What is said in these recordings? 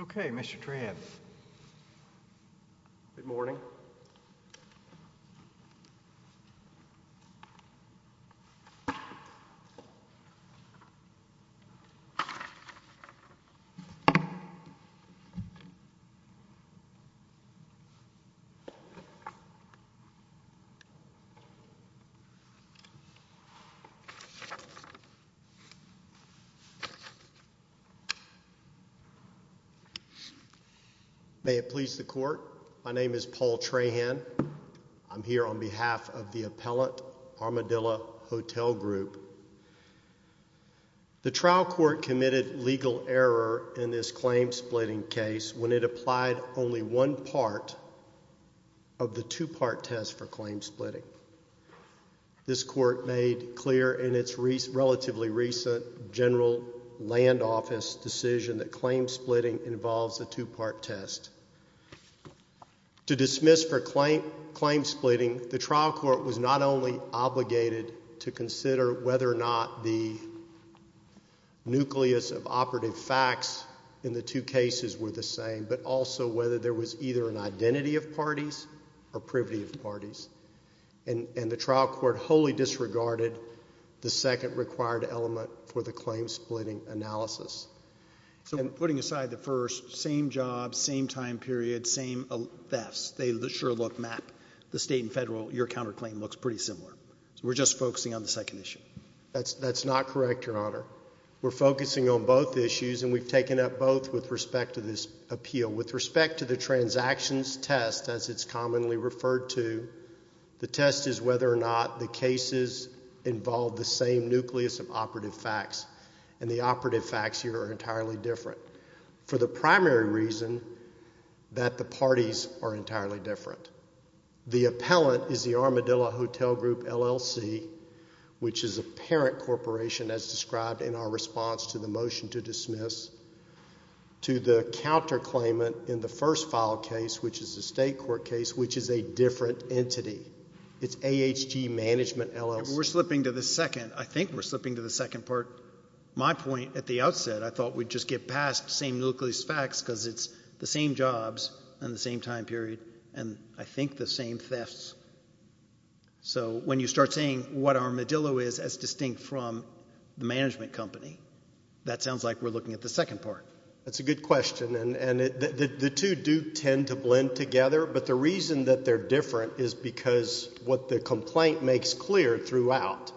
Okay, Mr. May it please the court, my name is Paul Trahan. I'm here on behalf of the appellant Armadillo Hotel Group. The trial court committed legal error in this claim splitting case when it applied only one part of the two-part test for claim splitting. This court made clear in its relatively recent general land office decision that claim splitting involves a two-part test. To dismiss for claim splitting, the trial court was not only obligated to consider whether or not the nucleus of operative facts in the two cases were the same, but also whether there was either an identity of parties or privity of parties. And the trial court wholly disregarded the second required element for the claim splitting analysis. So we're putting aside the first, same job, same time period, same thefts, they sure look map, the state and federal, your counterclaim looks pretty similar, so we're just focusing on the second issue. That's, that's not correct, your honor. We're focusing on both issues and we've taken up both with respect to this appeal. With respect to the transactions test, as it's commonly referred to, the test is whether or not the cases involve the same nucleus of operative facts. And the operative facts here are entirely different. For the primary reason that the parties are entirely different. The appellant is the Armadillo Hotel Group, LLC, which is a parent corporation as described in our response to the motion to dismiss. To the counterclaimant in the first file case, which is a state court case, which is a different entity. It's AHG Management, LLC. We're slipping to the second, I think we're slipping to the second part. My point at the outset, I thought we'd just get past same nucleus facts because it's the same jobs and the same time period and I think the same thefts. So when you start saying what Armadillo is as distinct from the management company, that sounds like we're looking at the second part. That's a good question and the two do tend to blend together, but the reason that they're different is because what the complaint makes clear throughout,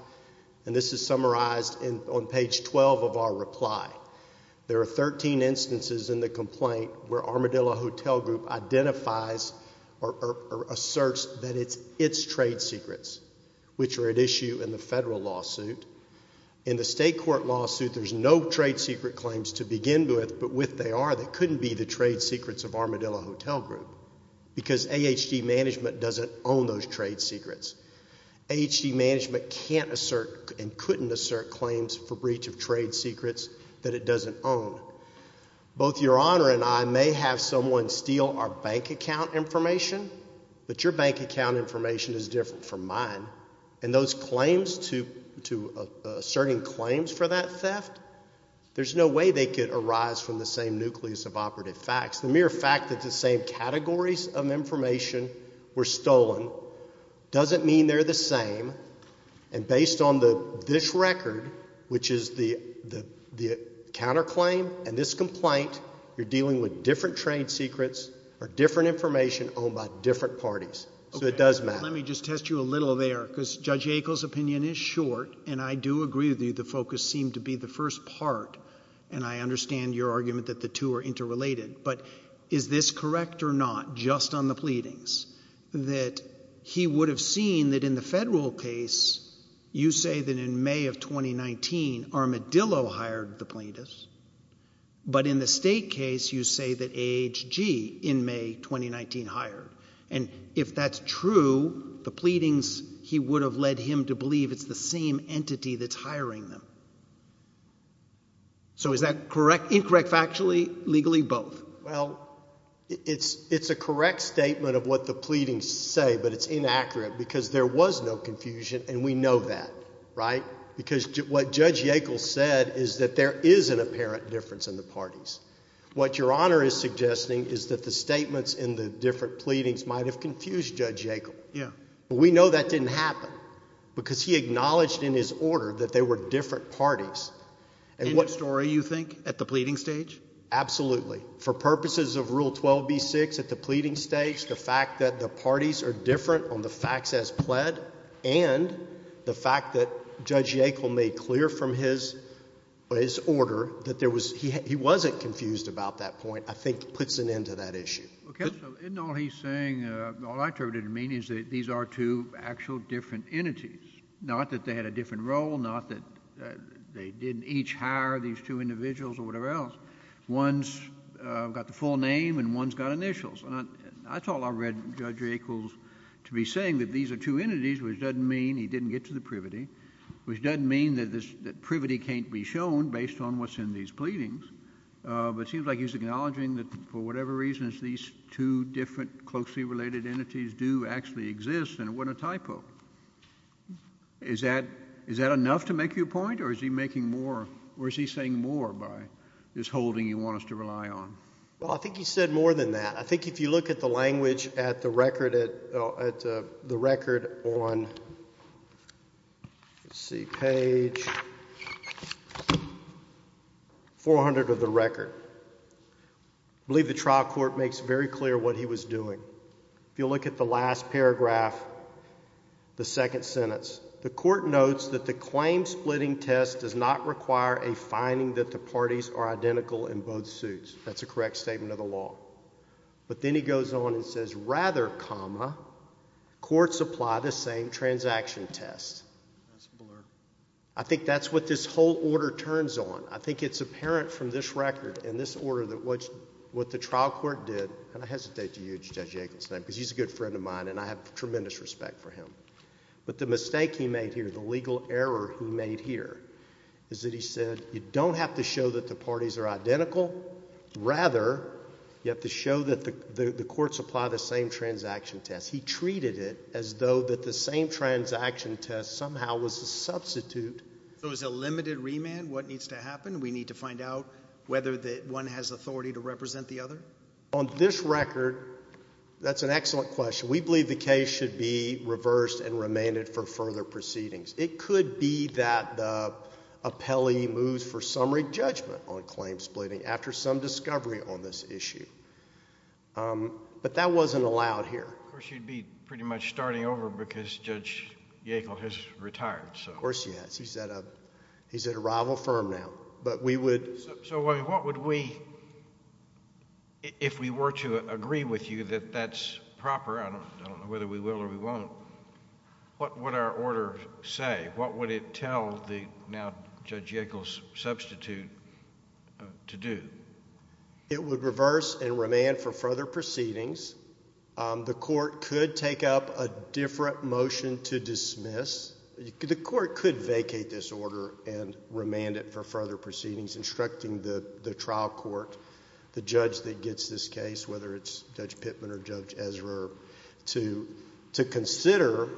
and this is summarized on page 12 of our reply, there are 13 instances in the complaint where Armadillo Hotel Group identifies or asserts that it's its trade secrets, which are at issue in the federal lawsuit. In the state court lawsuit, there's no trade secret claims to begin with, but with they are, they couldn't be the trade secrets of Armadillo Hotel Group. Because AHG Management doesn't own those trade secrets. AHG Management can't assert and couldn't assert claims for breach of trade secrets that it doesn't own. Both Your Honor and I may have someone steal our bank account information, but your bank account information is different from mine and those claims to, to asserting claims for that theft, there's no way they could arise from the same nucleus of operative facts. The mere fact that the same categories of information were stolen doesn't mean they're the same, and based on the, this record, which is the, the, the counterclaim and this complaint, you're dealing with different trade secrets or different information owned by different parties, so it does matter. Let me just test you a little there, because Judge Yackel's opinion is short, and I do agree with you. The focus seemed to be the first part, and I understand your argument that the two are interrelated, but is this correct or not, just on the pleadings, that he would have seen that in the federal case, you say that in May of 2019, Armadillo hired the plaintiffs, but in the state case, you say that AHG, in May 2019, hired. And if that's true, the pleadings, he would have led him to believe it's the same entity that's hiring them. So is that correct, incorrect factually, legally, both? Well, it's, it's a correct statement of what the pleadings say, but it's inaccurate, because there was no confusion, and we know that, right? Because what Judge Yackel said is that there is an apparent difference in the parties. What Your Honor is suggesting is that the statements in the different pleadings might have confused Judge Yackel. Yeah. But we know that didn't happen, because he acknowledged in his order that they were different parties. In the story, you think, at the pleading stage? Absolutely. For purposes of Rule 12b-6, at the pleading stage, the fact that the parties are different on the facts as pled, and the fact that Judge Yackel made clear from his, his order that there was, he wasn't confused about that point, I think puts an end to that issue. Okay. So isn't all he's saying, all I interpreted to mean is that these are two actual different entities, not that they had a different role, not that they didn't each hire these two individuals or whatever else. One's got the full name, and one's got initials, and that's all I read Judge Yackel to be saying, that these are two entities, which doesn't mean he didn't get to the privity, which doesn't mean that this, that privity can't be shown based on what's in these pleadings, but it seems like he's acknowledging that, for whatever reasons, these two different closely related entities do actually exist, and it wasn't a typo. Is that, is that enough to make you a point, or is he making more, or is he saying more by this holding you want us to rely on? Well, I think he said more than that. I think if you look at the language at the record at, at the record on, let's see, page 400 of the record, I believe the trial court makes very clear what he was doing. If you look at the last paragraph, the second sentence, the court notes that the claim splitting test does not require a finding that the parties are identical in both suits. That's a correct statement of the law. But then he goes on and says, rather comma, courts apply the same transaction test. I think that's what this whole order turns on. I think it's apparent from this record and this order that what, what the trial court did, and I hesitate to use Judge Yankel's name because he's a good friend of mine and I have tremendous respect for him. But the mistake he made here, the legal error he made here, is that he said you don't have to show that the parties are identical, rather you have to show that the, the, the courts apply the same transaction test. He treated it as though that the same transaction test somehow was a substitute. So is a limited remand what needs to happen? We need to find out whether the, one has authority to represent the other? On this record, that's an excellent question. We believe the case should be reversed and remanded for further proceedings. It could be that the appellee moves for summary judgment on claim splitting after some discovery on this issue. But that wasn't allowed here. Of course, you'd be pretty much starting over because Judge Yankel has retired, so. Of course he has. He's at a, he's at a rival firm now. But we would. So what would we, if we were to agree with you that that's proper, I don't, I don't know whether we will or we won't, what would our order say? What would it tell the now Judge Yankel's substitute to do? It would reverse and remand for further proceedings. The court could take up a different motion to dismiss. The court could vacate this order and remand it for further proceedings, instructing the trial court, the judge that gets this case, whether it's Judge Pittman or Judge Ezra, to consider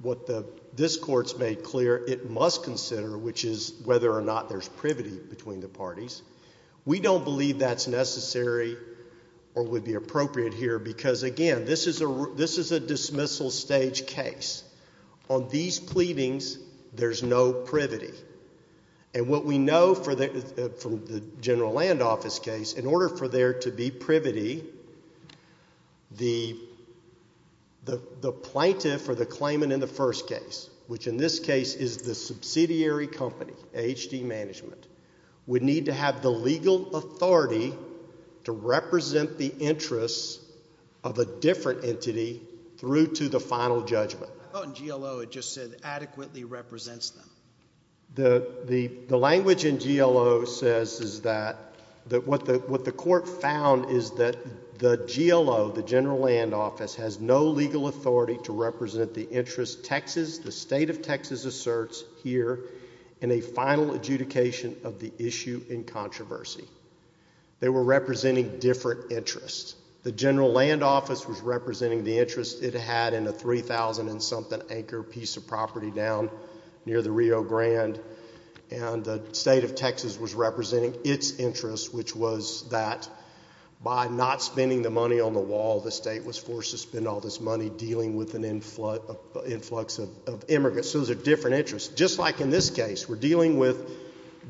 what the, this court's made clear it must consider, which is whether or not there's privity between the parties. We don't believe that's necessary or would be appropriate here because, again, this is a, this is a dismissal stage case. On these pleadings, there's no privity. And what we know for the, from the general land office case, in order for there to be privity, the, the, the plaintiff or the claimant in the first case, which in this case is the subsidiary company, AHD Management, would need to have the legal authority to represent the interests of a different entity through to the final judgment. I thought in GLO it just said adequately represents them. The, the, the language in GLO says is that, that what the, what the court found is that the GLO, the general land office, has no legal authority to represent the interests Texas, the state of Texas asserts here in a final adjudication of the issue in controversy. They were representing different interests. The general land office was representing the interests it had in a 3,000 and something anchor piece of property down near the Rio Grande, and the state of Texas was representing its interests, which was that by not spending the money on the wall, the state was forced to spend all this money dealing with an influx of, of, influx of immigrants. So those are different interests. Just like in this case, we're dealing with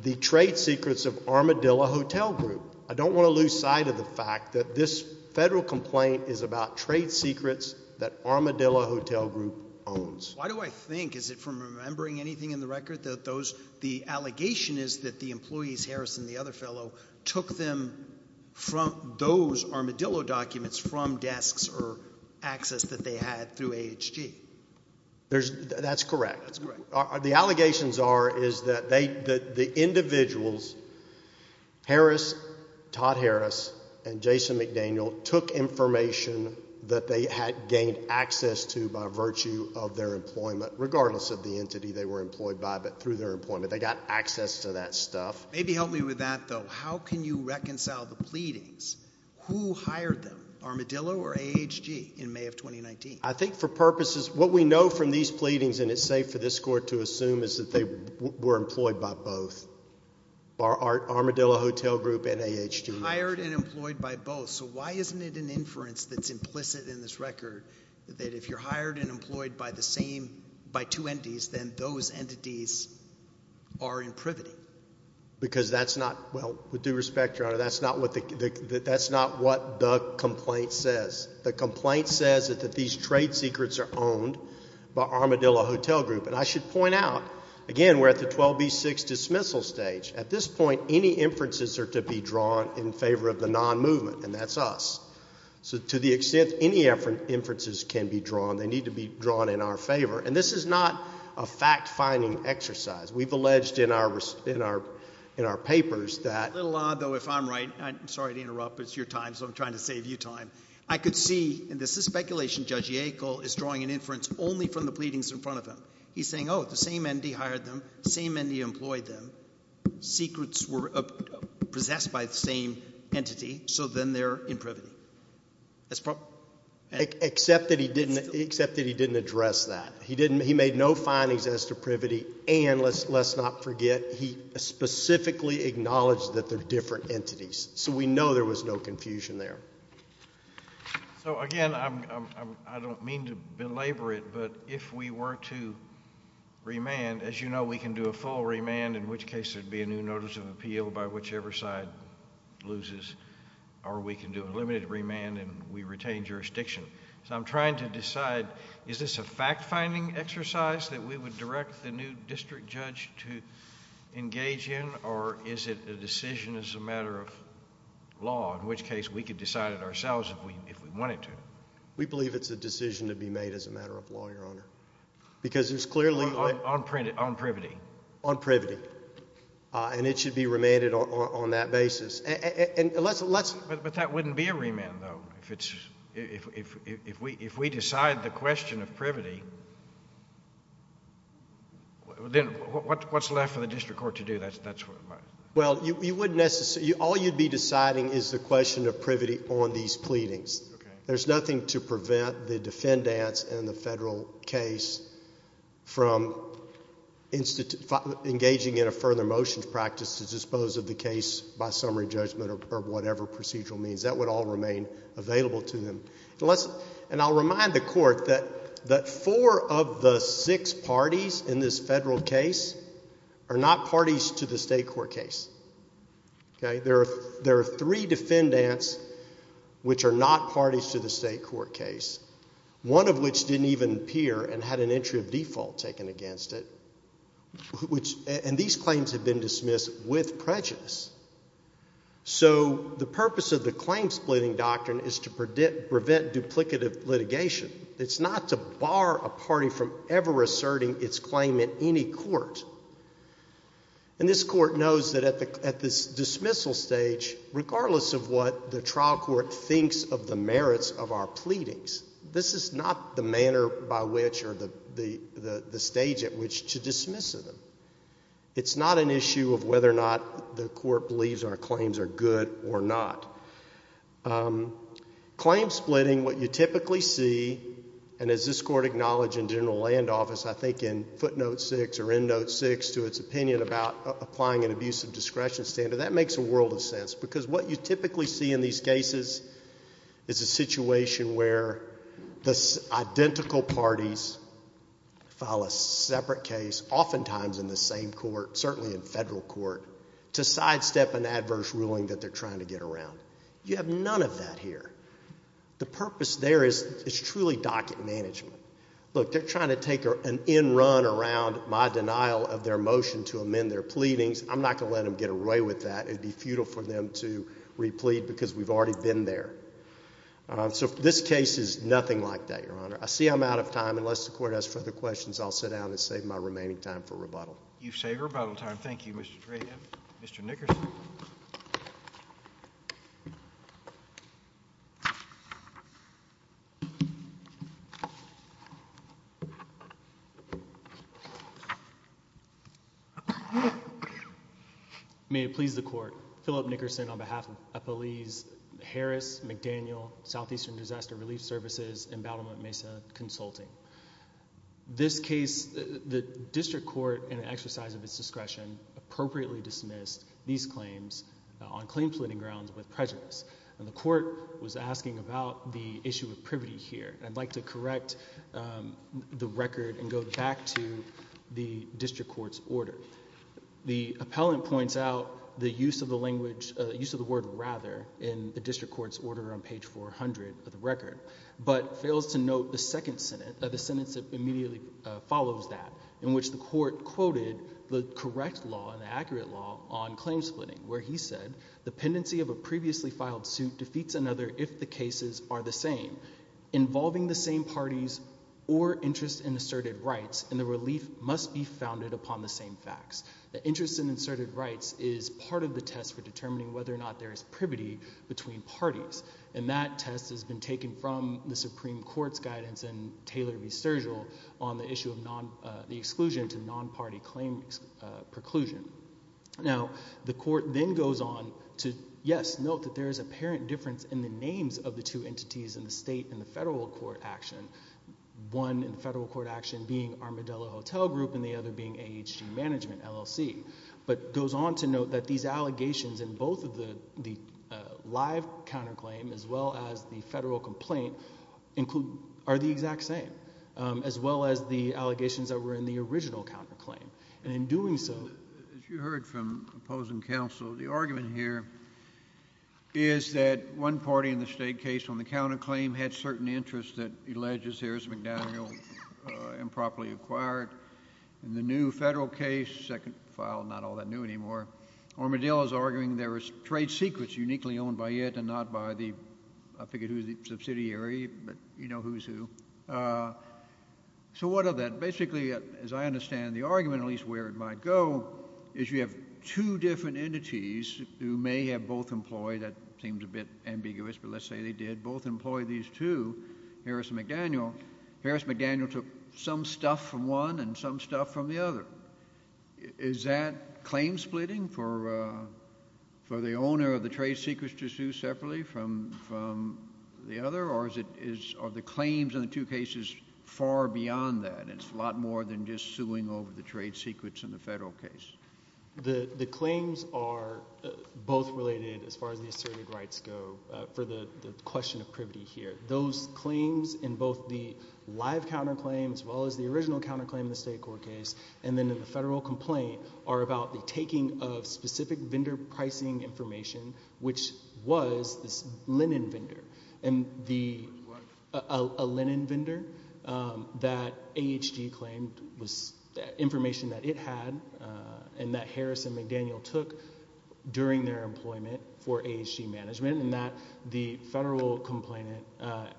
the trade secrets of Armadillo Hotel Group. I don't want to lose sight of the fact that this federal complaint is about trade secrets that Armadillo Hotel Group owns. Why do I think, is it from remembering anything in the record that those, the allegation is that the employees, Harris and the other fellow, took them from, those Armadillo documents from desks or access that they had through AHG? There's, that's correct. The allegations are, is that they, that the individuals, Harris, Todd Harris, and Jason McDaniel took information that they had gained access to by virtue of their employment, regardless of the entity they were employed by, but through their employment, they got access to that stuff. Maybe help me with that though. How can you reconcile the pleadings? Who hired them? Armadillo or AHG in May of 2019? I think for purposes, what we know from these pleadings, and it's safe for this court to assume is that they were employed by both, by Armadillo Hotel Group and AHG. Hired and employed by both. So why isn't it an inference that's implicit in this record that if you're hired and employed by the same, by two entities, then those entities are in privity? Because that's not, well, with due respect, Your Honor, that's not what the, that's not what the complaint says. The complaint says that these trade secrets are owned by Armadillo Hotel Group. And I should point out, again, we're at the 12B6 dismissal stage. At this point, any inferences are to be drawn in favor of the non-movement, and that's us. So to the extent any inferences can be drawn, they need to be drawn in our favor. And this is not a fact-finding exercise. We've alleged in our, in our, in our papers that- A little odd though, if I'm right, I'm sorry to interrupt, but it's your time, so I'm trying to save you time. I could see, and this is speculation, Judge Yackel is drawing an inference only from the pleadings in front of him. He's saying, oh, the same entity hired them, same entity employed them, secrets were possessed by the same entity, so then they're in privity. That's probably- Except that he didn't, except that he didn't address that. He didn't, he made no findings as to privity, and let's, let's not forget, he specifically acknowledged that they're different entities. So we know there was no confusion there. So again, I'm, I'm, I don't mean to belabor it, but if we were to remand, as you know, we can do a full remand, in which case there'd be a new notice of appeal by whichever side loses, or we can do a limited remand and we retain jurisdiction. So I'm trying to decide, is this a fact-finding exercise that we would direct the new district judge to engage in, or is it a decision as a matter of law, in which case we could decide it ourselves if we, if we wanted to? We believe it's a decision to be made as a matter of law, Your Honor, because there's clearly- On, on privity. On privity, and it should be remanded on, on that basis, and, and let's, let's- But that wouldn't be a remand, though, if it's, if, if, if we, if we decide the question of privity, then what, what, what's left for the district court to do? That's, that's- Well, you, you wouldn't necessarily, all you'd be deciding is the question of privity on these pleadings. Okay. There's nothing to prevent the defendants in the federal case from engaging in a further motions practice to dispose of the case by summary judgment or, or whatever procedural means. That would all remain available to them. And let's, and I'll remind the court that, that four of the six parties in this federal case are not parties to the state court case. Okay? There are, there are three defendants which are not parties to the state court case, one of which didn't even appear and had an entry of default taken against it, which, and these claims have been dismissed with prejudice. So, the purpose of the claim splitting doctrine is to predict, prevent duplicative litigation. It's not to bar a party from ever asserting its claim in any court. And this court knows that at the, at this dismissal stage, regardless of what the trial court thinks of the merits of our pleadings, this is not the manner by which or the, the, the stage at which to dismiss them. It's not an issue of whether or not the court believes our claims are good or not. Claim splitting, what you typically see, and as this court acknowledged in general land office, I think in footnote six or in note six to its opinion about applying an abusive discretion standard, that makes a world of sense. Because what you typically see in these cases is a situation where the identical parties file a separate case, oftentimes in the same court, certainly in federal court, to sidestep an adverse ruling that they're trying to get around. You have none of that here. The purpose there is, is truly docket management. Look, they're trying to take an end run around my denial of their motion to amend their pleadings. I'm not going to let them get away with that. It'd be futile for them to replead because we've already been there. So this case is nothing like that, Your Honor. I see I'm out of time. Unless the court has further questions, I'll sit down and save my remaining time for rebuttal. You've saved rebuttal time. Thank you, Mr. Trahan. Mr. Nickerson. May it please the court, Philip Nickerson on behalf of police, Harris, McDaniel, Southeastern Disaster Relief Services, Embattlement Mesa Consulting. This case, the district court, in an exercise of its discretion, appropriately dismissed these claims on claims-leading grounds with prejudice. And the court was asking about the issue of privity here. I'd like to correct the record and go back to the district court's order. The appellant points out the use of the language, use of the word rather, in the district court's order on page 400 of the record, but fails to note the second sentence that immediately follows that, in which the court quoted the correct law and the accurate law on claim splitting where he said, the pendency of a previously filed suit defeats another if the cases are the same, involving the same parties or interest in asserted rights, and the relief must be founded upon the same facts. The interest in asserted rights is part of the test for determining whether or not there is privity between parties, and that test has been taken from the Supreme Court's guidance in Taylor v. Sturgill on the issue of the exclusion to non-party claim preclusion. Now, the court then goes on to, yes, note that there is apparent difference in the names of the two entities in the state and the federal court action, one in the federal court action being Armadillo Hotel Group and the other being AHG Management, LLC, but goes on to say that these allegations in both of the live counterclaim as well as the federal complaint are the exact same, as well as the allegations that were in the original counterclaim, and in doing so... As you heard from opposing counsel, the argument here is that one party in the state case on the counterclaim had certain interests that he alleges here is McDaniel improperly acquired in the new federal case, second file, not all that new anymore, Armadillo is arguing there was trade secrets uniquely owned by it and not by the, I forget who the subsidiary, but you know who's who. So what of that? Basically, as I understand the argument, at least where it might go, is you have two different entities who may have both employed, that seems a bit ambiguous, but let's say they did, both employed these two, Harris and McDaniel. Harris and McDaniel took some stuff from one and some stuff from the other. Is that claim splitting for the owner of the trade secrets to sue separately from the other, or are the claims in the two cases far beyond that? It's a lot more than just suing over the trade secrets in the federal case. The claims are both related, as far as the asserted rights go, for the question of privity here. Those claims in both the live counterclaim, as well as the original counterclaim in the state court case, and then in the federal complaint, are about the taking of specific vendor pricing information, which was this linen vendor, a linen vendor that AHG claimed was information that it had and that Harris and McDaniel took during their employment for AHG management, and that the federal complainant,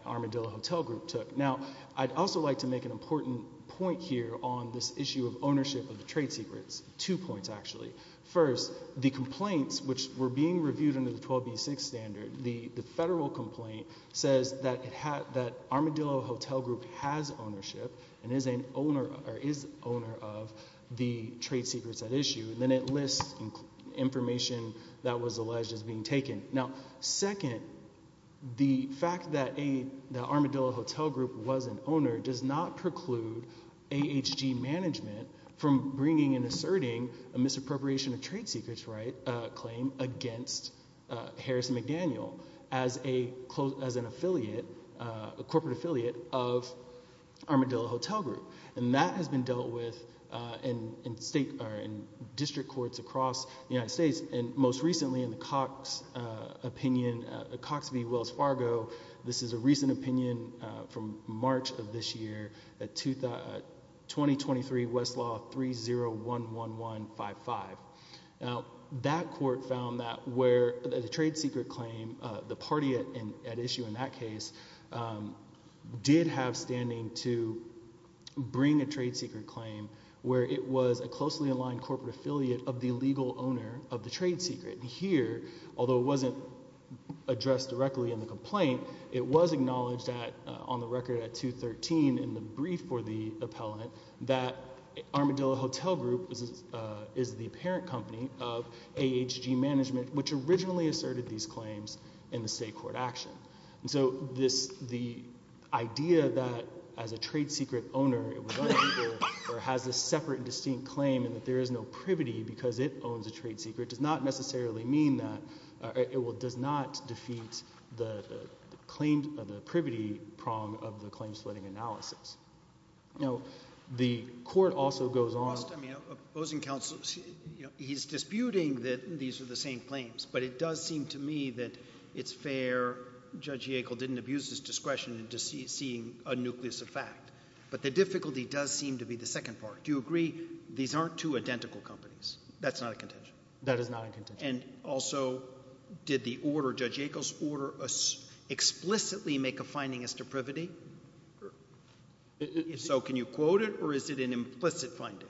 Armadillo Hotel Group, took. Now, I'd also like to make an important point here on this issue of ownership of the trade secrets. Two points, actually. First, the complaints, which were being reviewed under the 12b6 standard, the federal complaint says that Armadillo Hotel Group has ownership and is owner of the trade secrets at issue, and then it lists information that was alleged as being taken. Now, second, the fact that Armadillo Hotel Group was an owner does not preclude AHG management from bringing and asserting a misappropriation of trade secrets claim against Harris and McDaniel as an affiliate, a corporate affiliate of Armadillo Hotel Group, and that has been dealt with in district courts across the United States, and most recently in Cox v. Wells Fargo, this is a recent opinion from March of this year, 2023 Westlaw 3011155. That court found that where the trade secret claim, the party at issue in that case, did have standing to bring a trade secret claim where it was a closely aligned corporate affiliate of the legal owner of the trade secret, and here, although it wasn't addressed directly in the complaint, it was acknowledged on the record at 213 in the brief for the appellant that Armadillo Hotel Group is the parent company of AHG management, which originally asserted these claims in the state court action. And so this, the idea that as a trade secret owner, it has a separate and distinct claim and that there is no privity because it owns a trade secret does not necessarily mean that, it will, does not defeat the claim of the privity prong of the claim splitting analysis. Now, the court also goes on. I mean, opposing counsel, you know, he's disputing that these are the same claims, but it does seem to me that it's fair, Judge Yackel didn't abuse his discretion into seeing a nucleus of fact, but the difficulty does seem to be the second part. Do you agree these aren't two identical companies? That's not a contention. That is not a contention. And also, did the order, Judge Yackel's order, explicitly make a finding as to privity? So, can you quote it or is it an implicit finding?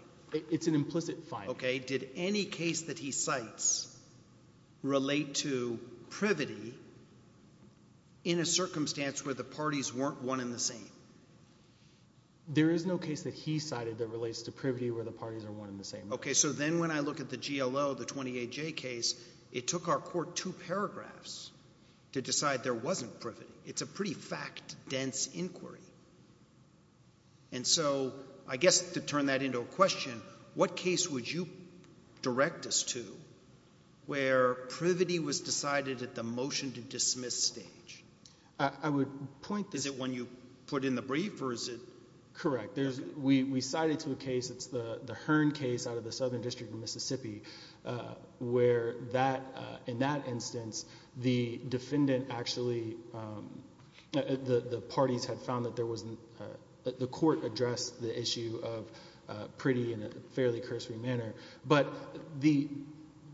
It's an implicit finding. Okay. Did any case that he cites relate to privity in a circumstance where the parties weren't one and the same? There is no case that he cited that relates to privity where the parties are one and the same. Okay, so then when I look at the GLO, the 28J case, it took our court two paragraphs to decide there wasn't privity. It's a pretty fact-dense inquiry. And so, I guess to turn that into a question, what case would you direct us to where privity was decided at the motion to dismiss stage? I would point this... Is it one you put in the brief or is it... Correct. We cited to a case, it's the Hearn case out of the Southern District of Mississippi, where in that instance, the defendant actually... the parties had found that the court addressed the issue of prity in a fairly cursory manner. But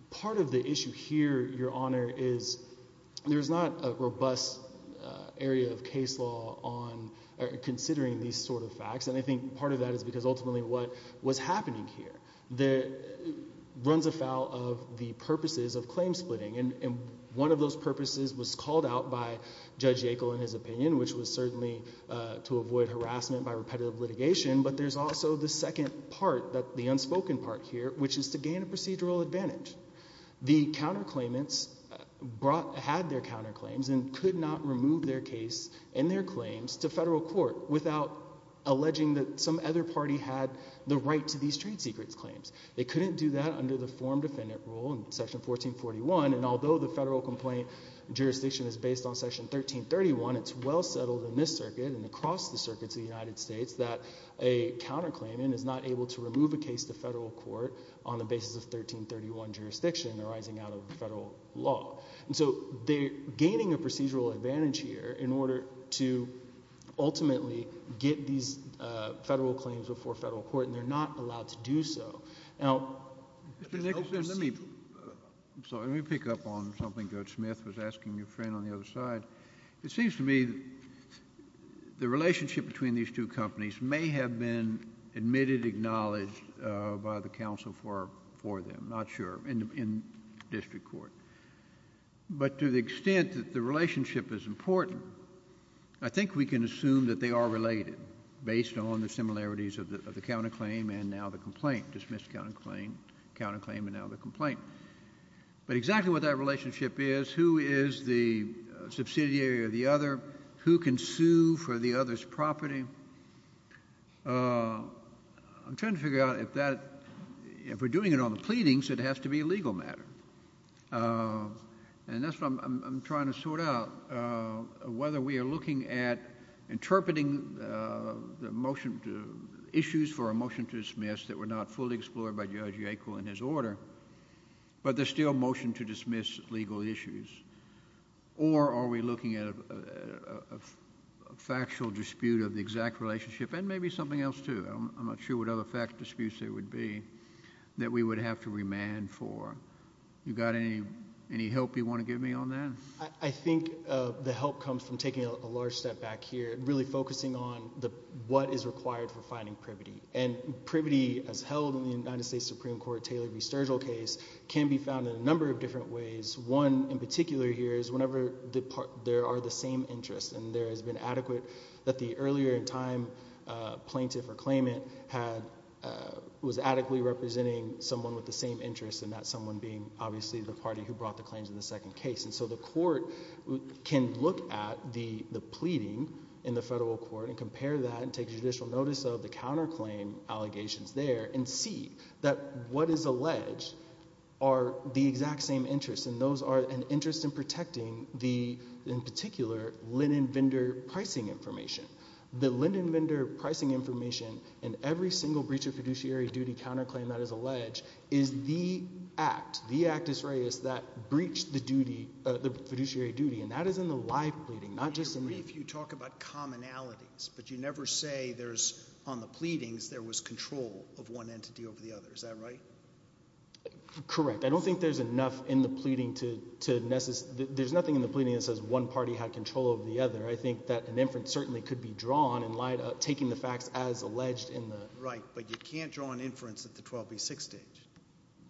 part of the issue here, Your Honor, is there's not a robust area of case law on considering these sort of facts. And I think part of that is because ultimately what was happening here runs afoul of the purposes of claim splitting. And one of those purposes was called out by Judge Yackel in his opinion, which was certainly to avoid harassment by repetitive litigation. But there's also the second part, the unspoken part here, which is to gain a procedural advantage. The counterclaimants had their counterclaims and could not remove their case and their claims to federal court without alleging that some other party had the right to these trade secrets claims. They couldn't do that under the form defendant rule in section 1441. And although the federal complaint jurisdiction is based on section 1331, it's well settled in this circuit and across the circuits of the United States that a counterclaimant is not able to remove a case to federal court on the basis of 1331 jurisdiction arising out of the federal law. And so they're gaining a procedural advantage here in order to ultimately get these federal claims before federal court and they're not allowed to do so. Now... Mr. Nicholson, let me pick up on something Judge Smith was asking your friend on the other side. It seems to me the relationship between these two companies may have been admitted, acknowledged by the counsel for them, not sure, in district court. But to the extent that the relationship is important, I think we can assume that they are related based on the similarities of the counterclaim and now the complaint, dismissed counterclaim and now the complaint. But exactly what that relationship is, who is the subsidiary of the other, who can sue for the other's property, I'm trying to figure out if that... if we're doing it on the pleadings, it has to be a legal matter. And that's what I'm trying to sort out, whether we are looking at interpreting the motion to... issues for a motion to dismiss that were not fully explored by Judge Yackel in his order, but there's still a motion to dismiss legal issues. Or are we looking at a factual dispute of the exact relationship and maybe something else too. I'm not sure what other factual disputes there would be that we would have to remand for. You got any help you want to give me on that? I think the help comes from taking a large step back here and really focusing on what is required for finding privity. And privity as held in the United States Supreme Court Taylor v. Sturgill case can be found in a number of different ways. One in particular here is whenever there are the same interests and there has been adequate that the earlier in time plaintiff or claimant had... was adequately representing someone with the same interests and that someone being obviously the party who brought the claims in the second case. And so the court can look at the pleading in the federal court and compare that and take judicial notice of the counterclaim allegations there and see that what is alleged are the exact same interests. And those are an interest in protecting the, in particular, Linden Vendor pricing information. The Linden Vendor pricing information in every single breach of fiduciary duty counterclaim that is alleged is the act, the actus reus, that breached the fiduciary duty. And that is in the live pleading, not just in the... In your brief you talk about commonalities, but you never say there's... on the pleadings there was control of one entity over the other. Is that right? Correct. I don't think there's enough in the pleading to, to... there's nothing in the pleading that says one party had control over the other. I think that an inference certainly could be drawn in light of taking the facts as alleged in the... Right. But you can't draw an inference at the 12B6 stage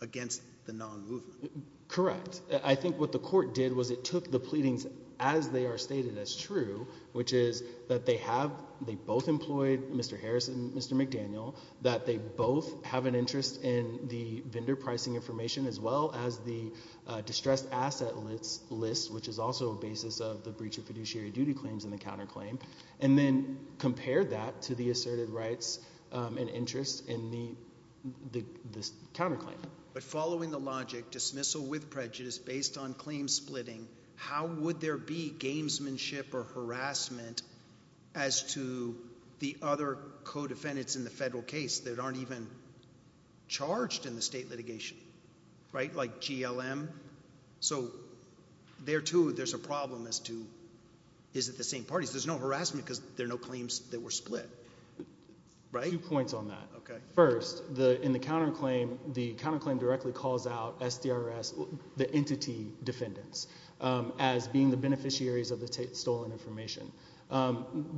against the non-movement. Correct. I think what the court did was it took the pleadings as they are stated as true, which is that they have, they both employed Mr. Harris and Mr. McDaniel, that they both have an interest in the vendor pricing information as well as the distressed asset list, which is also a basis of the breach of fiduciary duty claims and the counterclaim, and then compared that to the asserted rights and interest in the, the, the counterclaim. But following the logic, dismissal with prejudice based on claim splitting, how would there be gamesmanship or harassment as to the other co-defendants in the federal case that aren't even charged in the state litigation, right, like GLM? So there, too, there's a problem as to, is it the same parties? There's no harassment because there are no claims that were split, right? Two points on that. Okay. First, the, in the counterclaim, the counterclaim directly calls out SDRS, the entity defendants, as being the beneficiaries of the stolen information.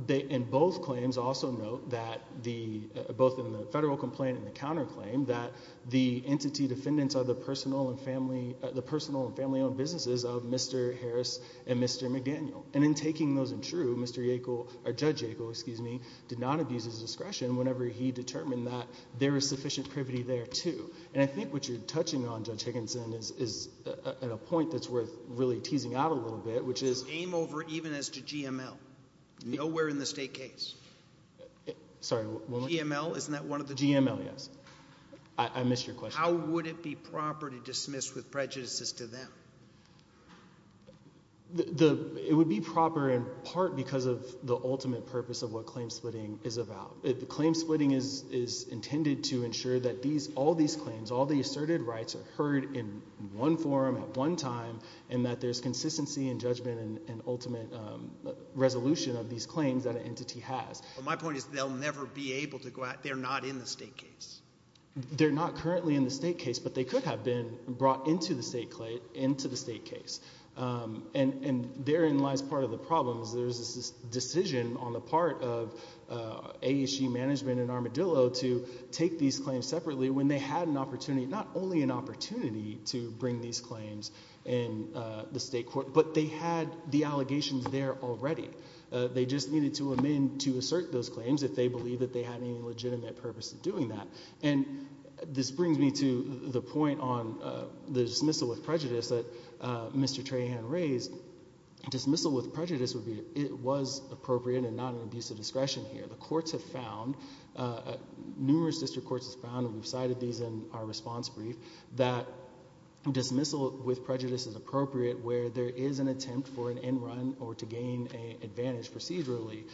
They, in both claims, also note that the, both in the federal complaint and the counterclaim, that the entity defendants are the personal and family, the personal and family-owned businesses of Mr. Harris and Mr. McDaniel. And in taking those in true, Mr. Yackel, or Judge Yackel, excuse me, did not abuse his discretion whenever he determined that there is sufficient privity there, too. And I think what you're touching on, Judge Higginson, is, is at a point that's worth really teasing out a little bit, which is. Aim over even as to GML. Nowhere in the state case. Sorry, one more. GML? Isn't that one of the? GML, yes. I, I missed your question. How would it be proper to dismiss with prejudices to them? The, the, it would be proper in part because of the ultimate purpose of what claim splitting is about. The claim splitting is, is intended to ensure that these, all these claims, all the asserted rights are heard in one forum, at one time, and that there's consistency and judgment and, and ultimate resolution of these claims that an entity has. But my point is, they'll never be able to go out, they're not in the state case. They're not currently in the state case, but they could have been brought into the state claim, into the state case. And, and therein lies part of the problem, is there's this decision on the part of AAC management and Armadillo to take these claims separately when they had an opportunity, not only an opportunity to bring these claims in the state court, but they had the allegations there already. They just needed to amend to assert those claims if they believe that they had any legitimate purpose of doing that. And this brings me to the point on the dismissal with prejudice that Mr. Trahan raised. Dismissal with prejudice would be, it was appropriate and not an abuse of discretion here. The courts have found, numerous district courts have found, and we've cited these in our response brief, that dismissal with prejudice is appropriate where there is an attempt for an end run or to gain an advantage procedurally.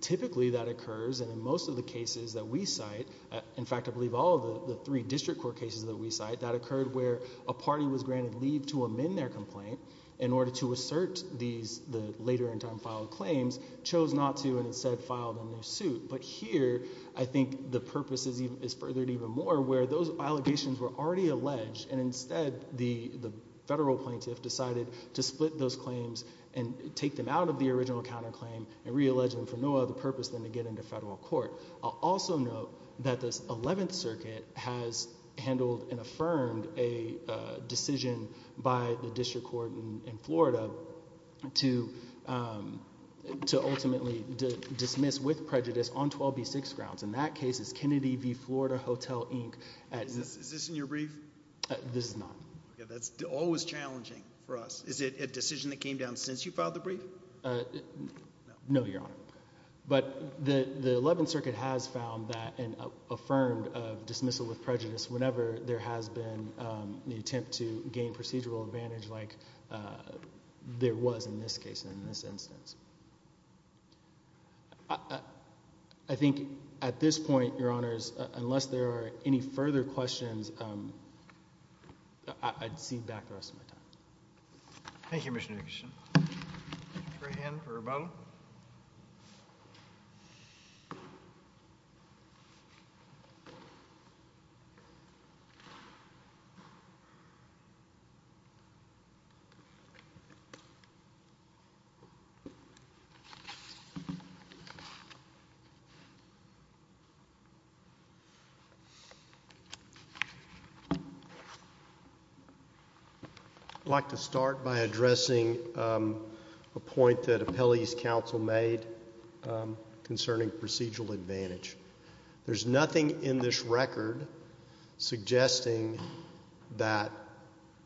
Typically that occurs, and in most of the cases that we cite, in fact I believe all of the three district court cases that we cite, that occurred where a party was granted leave to amend their complaint in order to assert these, the later in time filed claims, chose not to and instead filed a new suit. But here, I think the purpose is furthered even more where those allegations were already alleged and instead the federal plaintiff decided to split those claims and take them out of the original counterclaim and re-allege them for no other purpose than to get into federal court. I'll also note that this 11th circuit has handled and affirmed a decision by the district court in Florida to ultimately dismiss with prejudice on 12B6 grounds. In that case, it's Kennedy v. Florida Hotel, Inc. Is this in your brief? This is not. That's always challenging for us. Is it a decision that came down since you filed the brief? No, Your Honor. But the 11th circuit has found that and affirmed of dismissal with prejudice whenever there has been an attempt to gain procedural advantage like there was in this case and in this instance. I think at this point, Your Honors, unless there are any further questions, I'd cede back the rest of my time. Thank you, Mr. Nickerson. Mr. Hannon for rebuttal. I'd like to start by addressing a point that Appellee's counsel made. concerning procedural advantage. There's nothing in this record suggesting that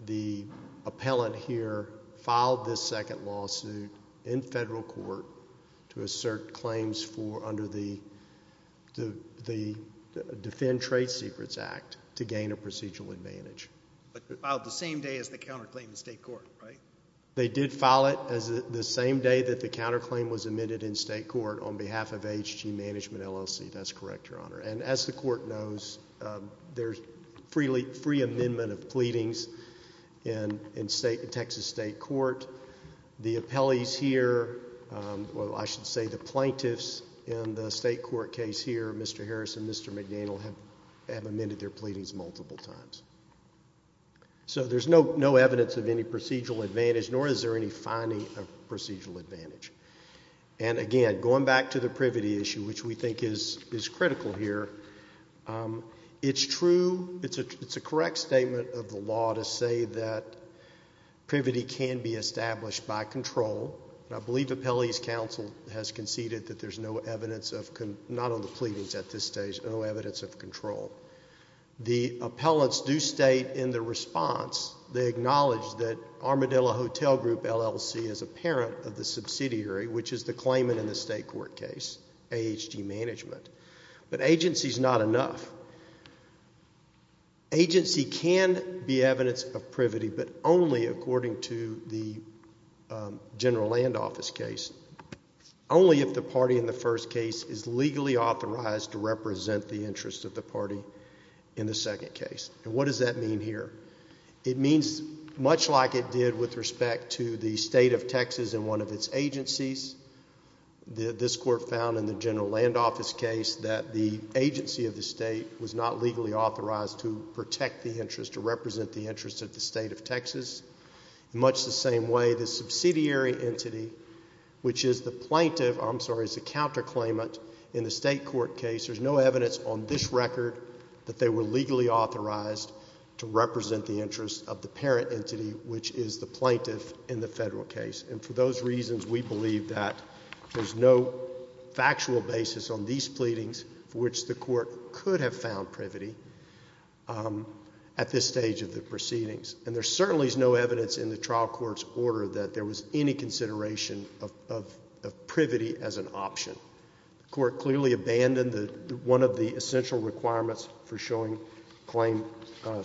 the appellant here filed this second lawsuit in federal court to assert claims for under the Defend Trade Secrets Act to gain a procedural advantage. But filed the same day as the counterclaim in state court, right? They did file it the same day that the counterclaim was admitted in state court on behalf of HG Management LLC. That's correct, Your Honor. And as the court knows, there's free amendment of pleadings in Texas state court. The appellees here, well, I should say the plaintiffs in the state court case here, Mr. Harris and Mr. McDaniel, have amended their pleadings multiple times. So there's no evidence of any procedural advantage, nor is there any finding of procedural advantage. And again, going back to the privity issue, which we think is critical here, it's true, it's a correct statement of the law to say that privity can be established by control. And I believe Appellee's counsel has conceded that there's no evidence of, not on the pleadings at this stage, no evidence of control. The appellants do state in their response, they acknowledge that Armadillo Hotel Group LLC is a parent of the subsidiary, which is the claimant in the state court case, HG Management. But agency's not enough. Agency can be evidence of privity, but only according to the general land office case, only if the party in the first case is legally authorized to represent the interests of the state court in the second case. And what does that mean here? It means much like it did with respect to the state of Texas and one of its agencies. This court found in the general land office case that the agency of the state was not legally authorized to protect the interest, to represent the interest of the state of Texas. In much the same way, the subsidiary entity, which is the plaintiff, I'm sorry, is the authorized to represent the interest of the parent entity, which is the plaintiff in the federal case. And for those reasons, we believe that there's no factual basis on these pleadings for which the court could have found privity at this stage of the proceedings. And there certainly is no evidence in the trial court's order that there was any consideration of privity as an option. The court clearly abandoned one of the essential requirements for showing claim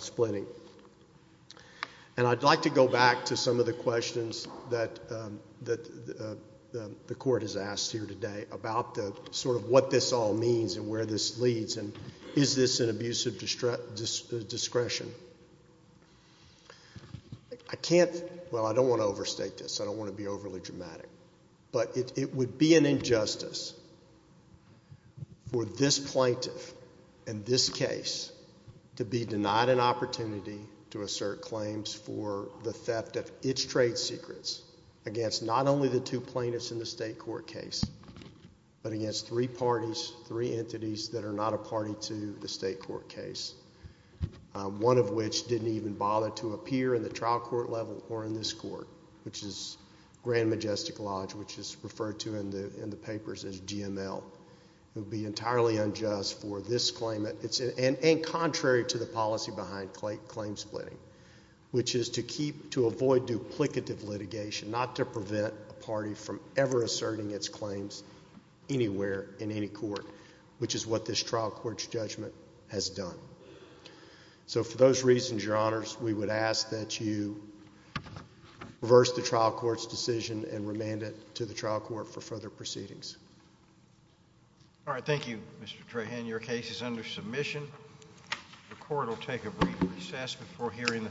splitting. And I'd like to go back to some of the questions that the court has asked here today about the sort of what this all means and where this leads, and is this an abuse of discretion? I can't – well, I don't want to overstate this. I don't want to be overly dramatic. But it would be an injustice for this plaintiff and this case to be denied an opportunity to assert claims for the theft of its trade secrets against not only the two plaintiffs in the state court case, but against three parties, three entities that are not a party to the state court case, one of which didn't even bother to appear in the trial court level or in this court, which is Grand Majestic Lodge, which is referred to in the papers as GML. It would be entirely unjust for this claimant – and contrary to the policy behind claim splitting, which is to keep – to avoid duplicative litigation, not to prevent a party from ever asserting its claims anywhere in any court, which is what this trial court's judgment has done. So for those reasons, Your Honors, we would ask that you reverse the trial court's decision and remand it to the trial court for further proceedings. All right, thank you, Mr. Trahan. Your case is under submission. The court will take a brief recess before hearing the final two cases.